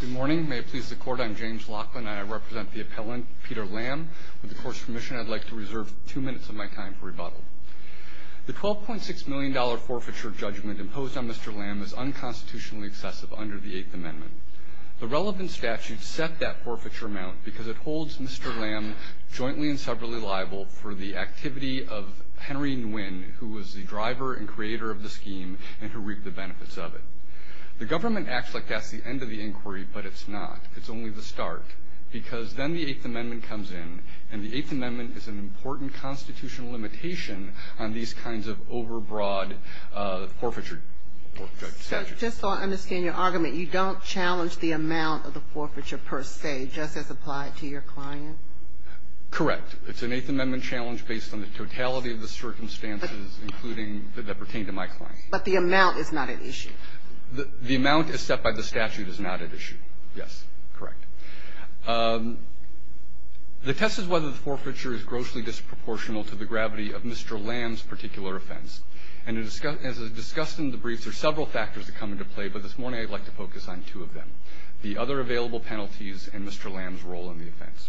Good morning. May it please the Court, I'm James Laughlin, and I represent the appellant Peter Lam. With the Court's permission, I'd like to reserve two minutes of my time for rebuttal. The $12.6 million forfeiture judgment imposed on Mr. Lam is unconstitutionally excessive under the Eighth Amendment. The relevant statute set that forfeiture amount because it holds Mr. Lam jointly and separately liable for the activity of Henry Nguyen, who was the driver and creator of the scheme and who reaped the benefits of it. The government acts like that's the end of the inquiry, but it's not. It's only the start, because then the Eighth Amendment comes in, and the Eighth Amendment is an important constitutional limitation on these kinds of overbroad forfeiture judgments. So just so I understand your argument, you don't challenge the amount of the forfeiture per se, just as applied to your client? Correct. It's an Eighth Amendment challenge based on the totality of the circumstances, including that pertain to my client. But the amount is not at issue. The amount as set by the statute is not at issue. Yes, correct. The test is whether the forfeiture is grossly disproportional to the gravity of Mr. Lam's particular offense. And as discussed in the brief, there are several factors that come into play, but this morning I'd like to focus on two of them, the other available penalties and Mr. Lam's role in the offense.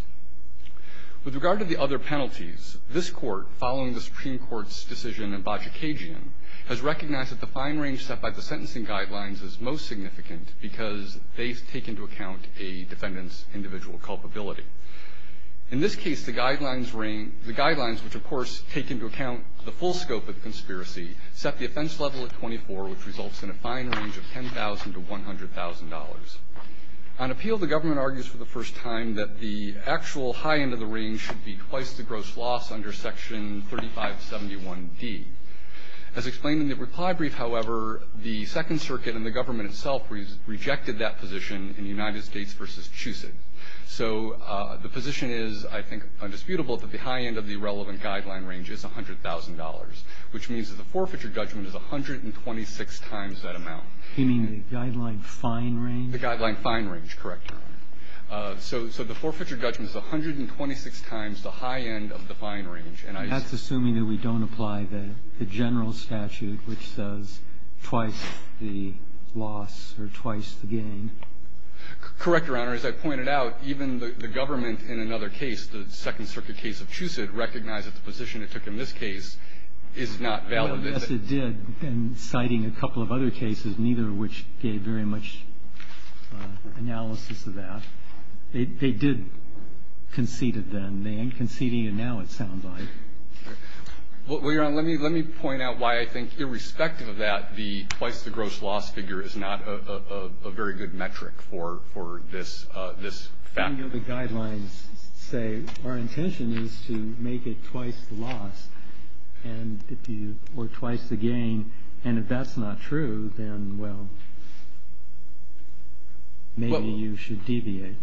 With regard to the other penalties, this Court, following the Supreme Court's decision has recognized that the fine range set by the sentencing guidelines is most significant, because they take into account a defendant's individual culpability. In this case, the guidelines, which of course take into account the full scope of the conspiracy, set the offense level at 24, which results in a fine range of $10,000 to $100,000. On appeal, the government argues for the first time that the actual high end of the range should be twice the gross loss under Section 3571D. As explained in the reply brief, however, the Second Circuit and the government itself rejected that position in United States v. Chucet. So the position is, I think, undisputable that the high end of the relevant guideline range is $100,000, which means that the forfeiture judgment is 126 times that amount. You mean the guideline fine range? The guideline fine range, correct. So the forfeiture judgment is 126 times the high end of the fine range. And I assume... That's assuming that we don't apply the general statute, which says twice the loss or twice the gain. Correct, Your Honor. As I pointed out, even the government in another case, the Second Circuit case of Chucet, recognized that the position it took in this case is not valid. Yes, it did, and citing a couple of other cases, neither of which gave very much analysis of that. They did concede it then. They aren't conceding it now, it sounds like. Well, Your Honor, let me point out why I think, irrespective of that, the twice the gross loss figure is not a very good metric for this fact. I know the guidelines say our intention is to make it twice the loss or twice the gain, and if that's not true, then, well, maybe you should deviate.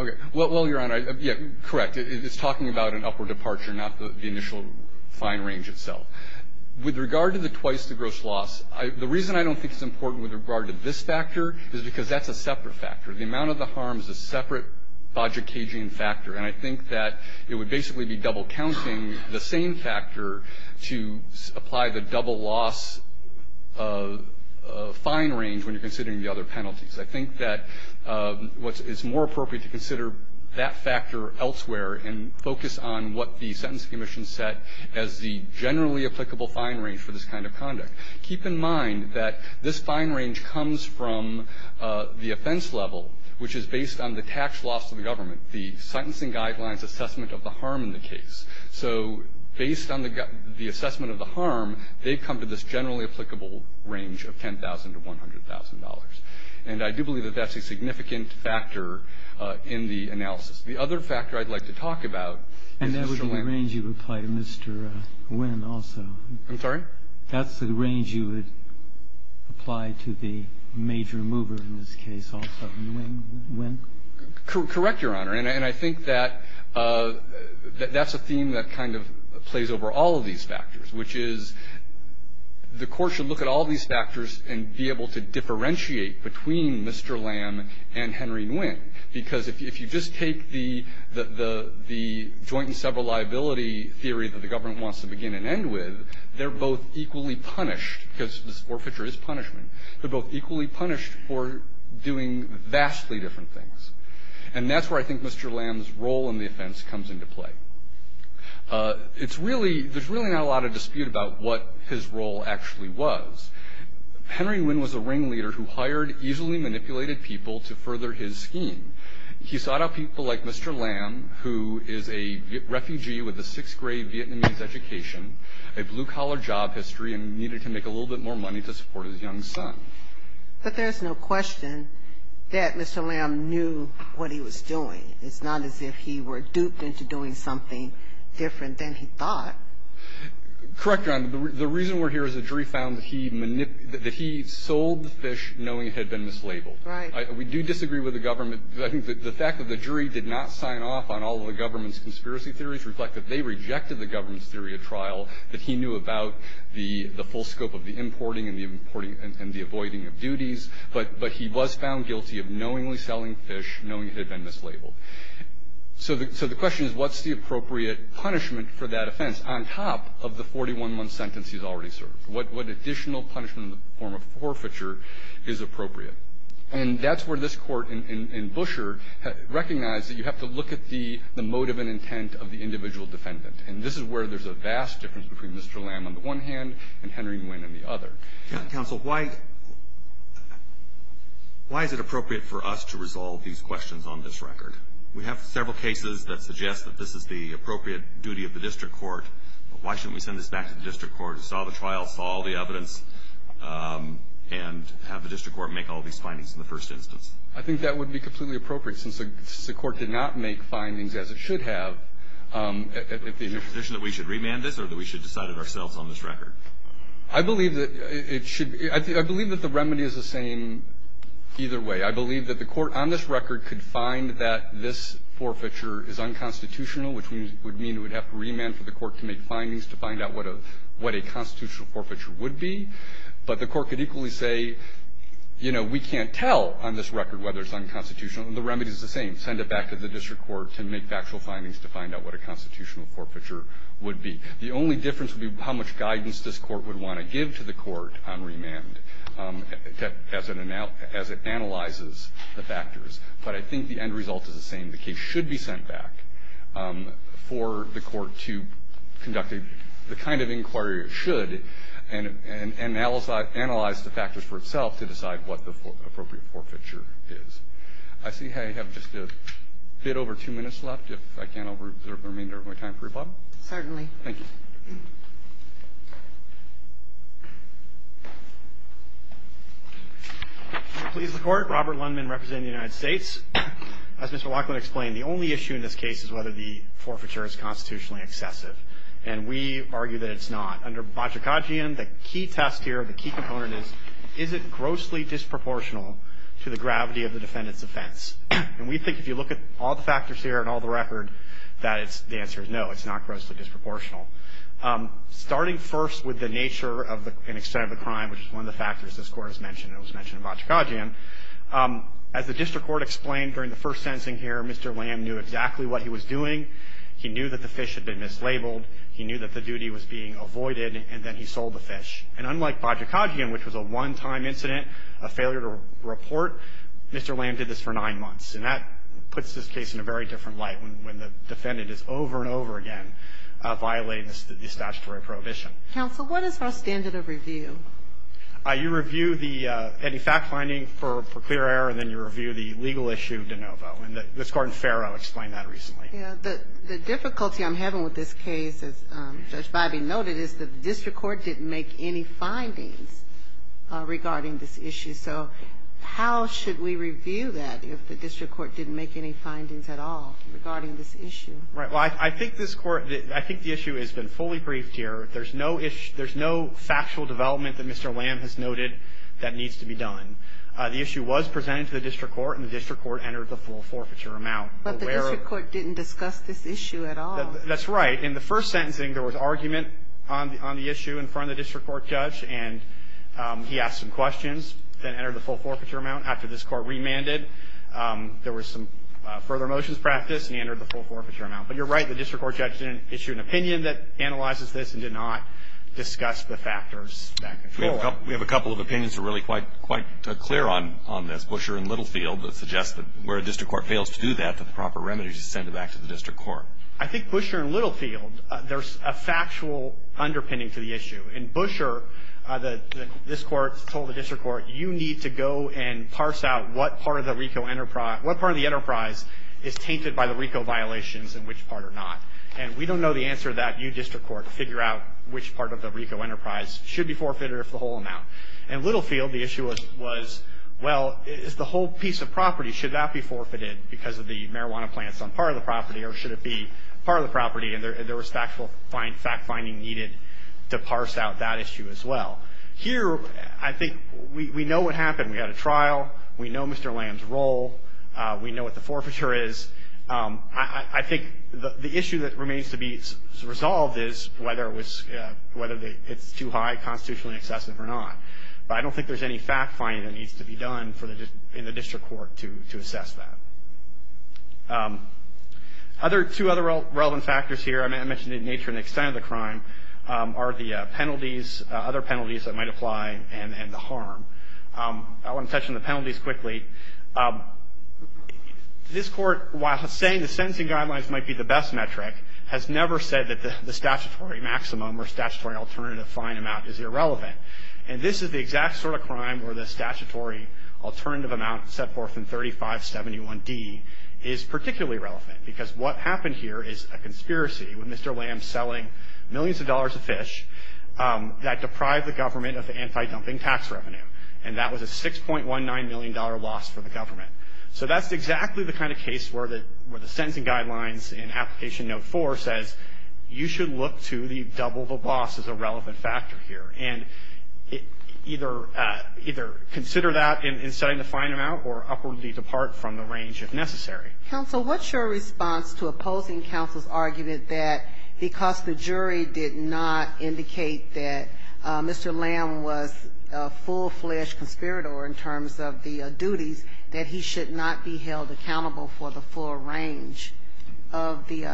Okay. Well, Your Honor, yeah, correct. It's talking about an upward departure, not the initial fine range itself. With regard to the twice the gross loss, the reason I don't think it's important with regard to this factor is because that's a separate factor. The amount of the harm is a separate Bajikagian factor, and I think that it would basically be double-counting the same factor to apply the double loss fine range when you're considering the other penalties. I think that it's more appropriate to consider that factor elsewhere and focus on what the Sentence Commission set as the generally applicable fine range for this kind of conduct. Keep in mind that this fine range comes from the offense level, which is based on the tax loss to the government, the sentencing guidelines assessment of the harm in the case. So based on the assessment of the harm, they've come to this generally applicable range of $10,000 to $100,000. And I do believe that that's a significant factor in the analysis. The other factor I'd like to talk about is Mr. Lam. And that would be the range you apply to Mr. Nguyen also. I'm sorry? That's the range you would apply to the major mover in this case also, Nguyen? Correct, Your Honor. And I think that that's a theme that kind of plays over all of these factors, which is the Court should look at all these factors and be able to differentiate between Mr. Lam and Henry Nguyen, because if you just take the joint and several liability theory that the government wants to begin and end with, they're both equally punished, because this forfeiture is punishment. They're both equally punished for doing vastly different things. And that's where I think Mr. Lam's role in the offense comes into play. There's really not a lot of dispute about what his role actually was. Henry Nguyen was a ringleader who hired easily manipulated people to further his scheme. He sought out people like Mr. Lam, who is a refugee with a sixth-grade Vietnamese education, a blue-collar job history, and needed to make a little bit more money to support his young son. But there's no question that Mr. Lam knew what he was doing. It's not as if he were duped into doing something different than he thought. Correct, Your Honor. The reason we're here is the jury found that he sold the fish knowing it had been mislabeled. Right. We do disagree with the government. I think the fact that the jury did not sign off on all of the government's conspiracy theories reflect that they rejected the government's theory of trial, that he knew about the full scope of the importing and the avoiding of duties. But he was found guilty of knowingly selling fish, knowing it had been mislabeled. So the question is, what's the appropriate punishment for that offense on top of the 41-month sentence he's already served? What additional punishment in the form of forfeiture is appropriate? And that's where this Court in Busher recognized that you have to look at the motive and intent of the individual defendant. And this is where there's a vast difference between Mr. Lam on the one hand and Henry Nguyen on the other. Counsel, why is it appropriate for us to resolve these questions on this record? We have several cases that suggest that this is the appropriate duty of the district court. Why shouldn't we send this back to the district court who saw the trial, saw all the evidence, and have the district court make all these findings in the first instance? I think that would be completely appropriate since the court did not make findings as it should have. Is it your position that we should remand this or that we should decide it ourselves on this record? I believe that it should be. I believe that the remedy is the same either way. I believe that the court on this record could find that this forfeiture is unconstitutional, which would mean it would have to remand for the court to make findings to find out what a constitutional forfeiture would be. But the court could equally say, you know, we can't tell on this record whether it's unconstitutional. The remedy is the same. Send it back to the district court to make factual findings to find out what a constitutional forfeiture would be. The only difference would be how much guidance this court would want to give to the court on remand as it analyzes the factors. But I think the end result is the same. The case should be sent back for the court to conduct the kind of inquiry it should and analyze the factors for itself to decide what the appropriate forfeiture is. I see I have just a bit over two minutes left. If I can, I'll reserve the remainder of my time for rebuttal. Certainly. Thank you. Please, the Court. Robert Lundman representing the United States. As Mr. Laughlin explained, the only issue in this case is whether the forfeiture is constitutionally excessive. And we argue that it's not. Under Bocciacaggian, the key test here, the key component is, is it grossly disproportional to the gravity of the defendant's offense? And we think if you look at all the factors here and all the record, that the answer is no, it's not grossly disproportional. Starting first with the nature and extent of the crime, which is one of the factors this Court has mentioned and was mentioned in Bocciacaggian, as the district court explained during the first sentencing here, Mr. Lamb knew exactly what he was doing. He knew that the fish had been mislabeled. He knew that the duty was being avoided, and then he sold the fish. And unlike Bocciacaggian, which was a one-time incident, a failure to report, Mr. Lamb did this for nine months. And that puts this case in a very different light when the defendant is over and over again violating this statutory prohibition. Counsel, what is our standard of review? You review any fact-finding for clear error, and then you review the legal issue of de novo. And Ms. Gordon-Ferro explained that recently. Yeah. The difficulty I'm having with this case, as Judge Biby noted, is that the district court didn't make any findings regarding this issue. So how should we review that if the district court didn't make any findings at all regarding this issue? Right. Well, I think this court, I think the issue has been fully briefed here. There's no factual development that Mr. Lamb has noted that needs to be done. The issue was presented to the district court, and the district court entered the full forfeiture amount. But the district court didn't discuss this issue at all. That's right. In the first sentencing, there was argument on the issue in front of the district court judge, and he asked some questions, then entered the full forfeiture amount. After this court remanded, there was some further motions practiced, and he entered the full forfeiture amount. But you're right. The district court judge didn't issue an opinion that analyzes this and did not discuss the factors that control it. We have a couple of opinions that are really quite clear on this, Busher and Littlefield, that suggest that where a district court fails to do that, the proper remedy is to send it back to the district court. I think Busher and Littlefield, there's a factual underpinning to the issue. In Busher, this court told the district court, you need to go and parse out what part of the enterprise is tainted by the RICO violations and which part are not. And we don't know the answer to that. You, district court, figure out which part of the RICO enterprise should be forfeited or if the whole amount. And Littlefield, the issue was, well, it's the whole piece of property. Should that be forfeited because of the marijuana plants on part of the property, or should it be part of the property? And there was fact finding needed to parse out that issue as well. Here, I think we know what happened. We had a trial. We know Mr. Lamb's role. We know what the forfeiture is. I think the issue that remains to be resolved is whether it's too high, constitutionally excessive or not. But I don't think there's any fact finding that needs to be done in the district court to assess that. Two other relevant factors here, I mentioned in nature and extent of the crime, are the penalties, other penalties that might apply and the harm. I want to touch on the penalties quickly. This court, while saying the sentencing guidelines might be the best metric, has never said that the statutory maximum or statutory alternative fine amount is irrelevant. And this is the exact sort of crime where the statutory alternative amount set forth in 3571D is particularly relevant because what happened here is a conspiracy with Mr. Lamb selling millions of dollars of fish that deprived the government of the anti-dumping tax revenue. And that was a $6.19 million loss for the government. So that's exactly the kind of case where the sentencing guidelines in Application Note 4 says, you should look to the double the loss as a relevant factor here. And either consider that in setting the fine amount or upwardly depart from the range if necessary. Counsel, what's your response to opposing counsel's argument that because the jury did not indicate that Mr. Lamb was a full-fledged conspirator in terms of the duties, that he should not be held accountable for the full range of the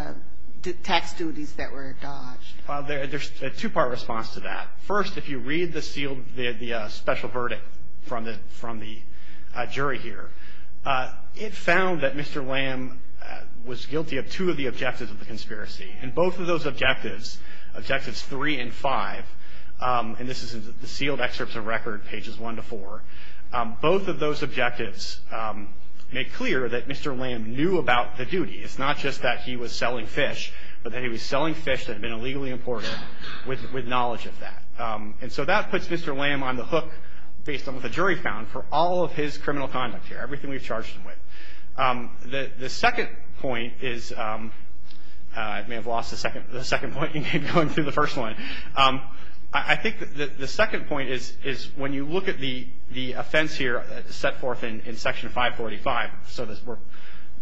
tax duties that were dodged? Well, there's a two-part response to that. First, if you read the special verdict from the jury here, it found that Mr. Lamb was guilty of two of the objectives of the conspiracy. And both of those objectives, Objectives 3 and 5, and this is in the sealed excerpts of record, Pages 1 to 4, both of those objectives make clear that Mr. Lamb knew about the duty. It's not just that he was selling fish, but that he was selling fish that had been illegally imported with knowledge of that. And so that puts Mr. Lamb on the hook, based on what the jury found, for all of his criminal conduct here. Everything we've charged him with. The second point is – I may have lost the second point in going through the first one. I think the second point is when you look at the offense here set forth in Section 545, so we're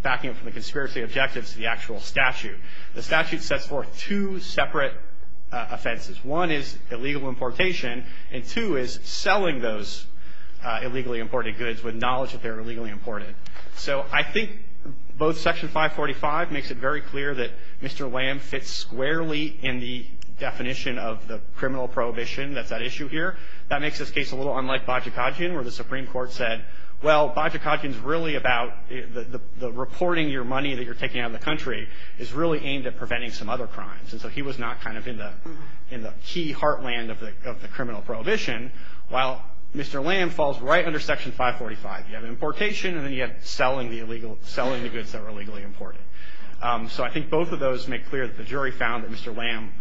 backing up from the conspiracy objectives to the actual statute, the statute sets forth two separate offenses. One is illegal importation, and two is selling those illegally imported goods with knowledge that they were illegally imported. So I think both Section 545 makes it very clear that Mr. Lamb fits squarely in the definition of the criminal prohibition that's at issue here. That makes this case a little unlike Bajikadzian, where the Supreme Court said, well, Bajikadzian's really about the reporting your money that you're taking out of the country is really aimed at preventing some other crimes. And so he was not kind of in the key heartland of the criminal prohibition. While Mr. Lamb falls right under Section 545. You have importation, and then you have selling the goods that were illegally imported. So I think both of those make clear that the jury found that Mr. Lamb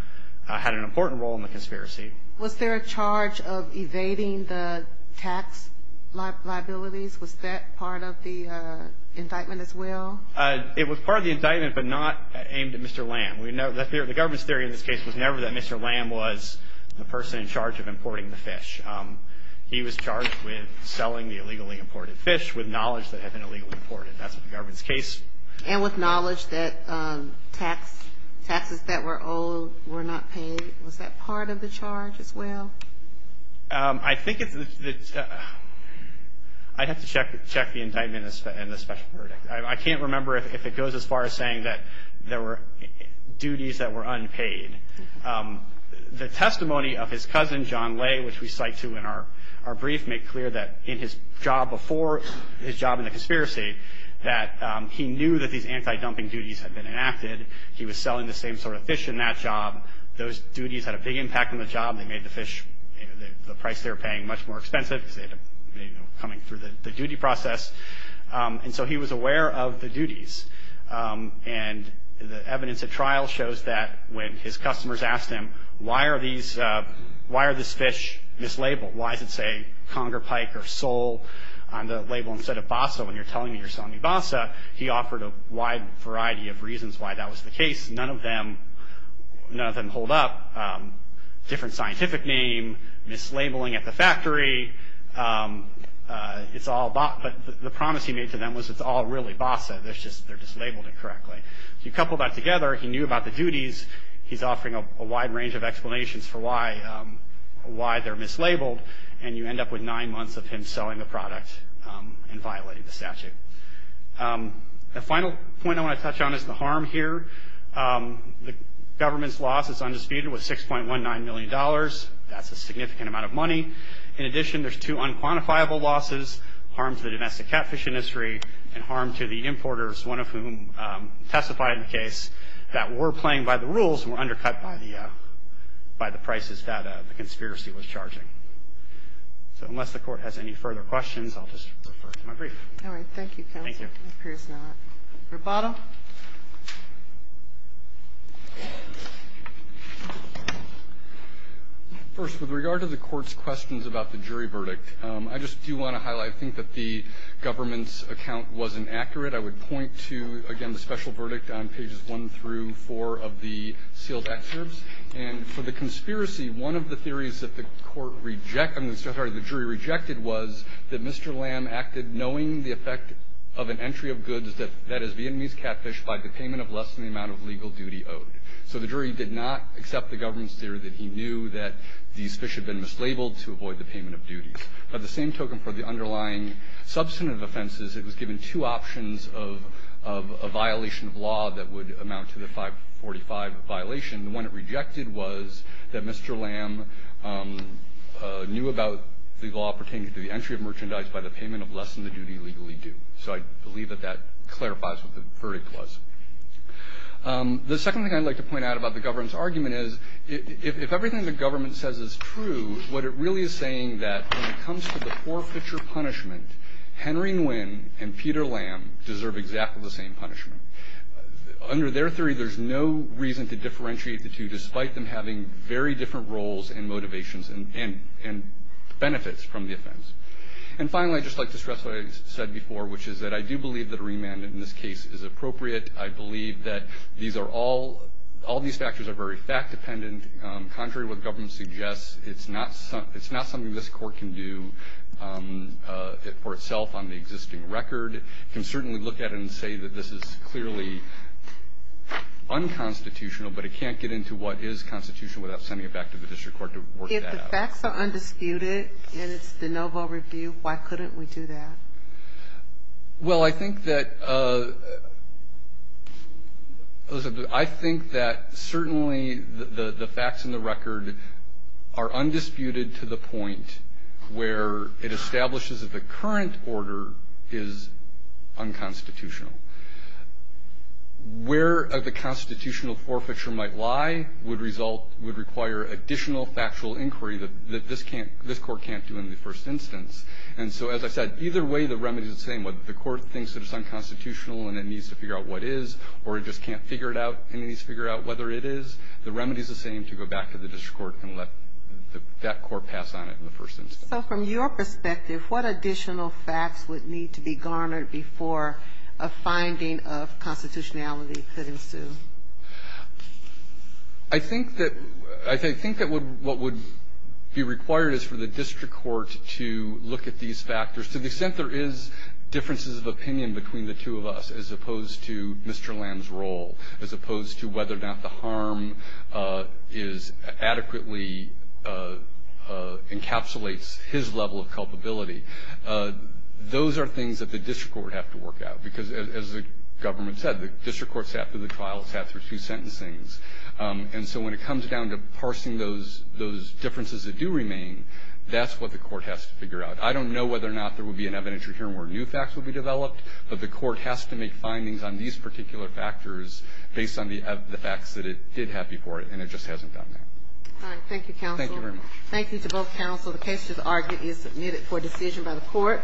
had an important role in the conspiracy. Was there a charge of evading the tax liabilities? Was that part of the indictment as well? It was part of the indictment, but not aimed at Mr. Lamb. The government's theory in this case was never that Mr. Lamb was the person in charge of importing the fish. He was charged with selling the illegally imported fish with knowledge that it had been illegally imported. That's the government's case. And with knowledge that taxes that were owed were not paid. Was that part of the charge as well? I think it's the – I'd have to check the indictment and the special verdict. I can't remember if it goes as far as saying that there were duties that were unpaid. The testimony of his cousin, John Lay, which we cite to in our brief, made clear that in his job before, his job in the conspiracy, that he knew that these anti-dumping duties had been enacted. He was selling the same sort of fish in that job. Those duties had a big impact on the job. They made the fish, the price they were paying, much more expensive. They were coming through the duty process. And so he was aware of the duties. And the evidence at trial shows that when his customers asked him, why are these – why are these fish mislabeled? Why does it say conger pike or sole on the label instead of bassa when you're telling me you're selling me bassa? He offered a wide variety of reasons why that was the case. None of them – none of them hold up. Different scientific name, mislabeling at the factory. It's all – but the promise he made to them was it's all really bassa. They're just labeled incorrectly. If you couple that together, he knew about the duties. He's offering a wide range of explanations for why they're mislabeled. And you end up with nine months of him selling the product and violating the statute. The final point I want to touch on is the harm here. The government's loss, it's undisputed, was $6.19 million. That's a significant amount of money. In addition, there's two unquantifiable losses, harm to the domestic catfish industry and harm to the importers, one of whom testified in the case, that were playing by the rules and were undercut by the – by the prices that the conspiracy was charging. So unless the court has any further questions, I'll just refer to my brief. All right. Thank you, counsel. Thank you. It appears not. Roboto. First, with regard to the court's questions about the jury verdict, I just do want to highlight, I think that the government's account wasn't accurate. I would point to, again, the special verdict on Pages 1 through 4 of the sealed excerpts. And for the conspiracy, one of the theories that the court rejected – I'm sorry, the jury rejected was that Mr. Lam acted knowing the effect of an entry of goods that is Vietnamese catfish by the payment of less than the amount of legal duty owed. So the jury did not accept the government's theory that he knew that these fish had been mislabeled to avoid the payment of duties. By the same token, for the underlying substantive offenses, it was given two options of a violation of law that would amount to the 545 violation. The one it rejected was that Mr. Lam knew about the law pertaining to the entry of merchandise by the payment of less than the duty legally due. So I believe that that clarifies what the verdict was. The second thing I'd like to point out about the government's argument is, if everything the government says is true, what it really is saying is that when it comes to the forfeiture punishment, Henry Nguyen and Peter Lam deserve exactly the same punishment. Under their theory, there's no reason to differentiate the two, And finally, I'd just like to stress what I said before, which is that I do believe that a remand in this case is appropriate. I believe that all these factors are very fact-dependent. Contrary to what the government suggests, it's not something this court can do for itself on the existing record. It can certainly look at it and say that this is clearly unconstitutional, but it can't get into what is constitutional without sending it back to the district court to work that out. If the facts are undisputed and it's de novo review, why couldn't we do that? Well, I think that certainly the facts in the record are undisputed to the point where it establishes that the current order is unconstitutional. Where the constitutional forfeiture might lie would require additional factual inquiry that this court can't do in the first instance. And so, as I said, either way, the remedy is the same. Whether the court thinks that it's unconstitutional and it needs to figure out what is, or it just can't figure it out and it needs to figure out whether it is, the remedy is the same to go back to the district court and let that court pass on it in the first instance. So from your perspective, what additional facts would need to be garnered before a finding of constitutionality could ensue? I think that what would be required is for the district court to look at these factors. To the extent there is differences of opinion between the two of us, as opposed to Mr. Lamb's role, as opposed to whether or not the harm is adequately encapsulates his level of culpability, those are things that the district court would have to work out. Because as the government said, the district court sat through the trial. It sat through two sentencings. And so when it comes down to parsing those differences that do remain, that's what the court has to figure out. I don't know whether or not there would be an evidentiary hearing where new facts would be developed, but the court has to make findings on these particular factors based on the facts that it did have before, and it just hasn't done that. Thank you, counsel. Thank you very much. Thank you to both counsel. The case is submitted for decision by the court.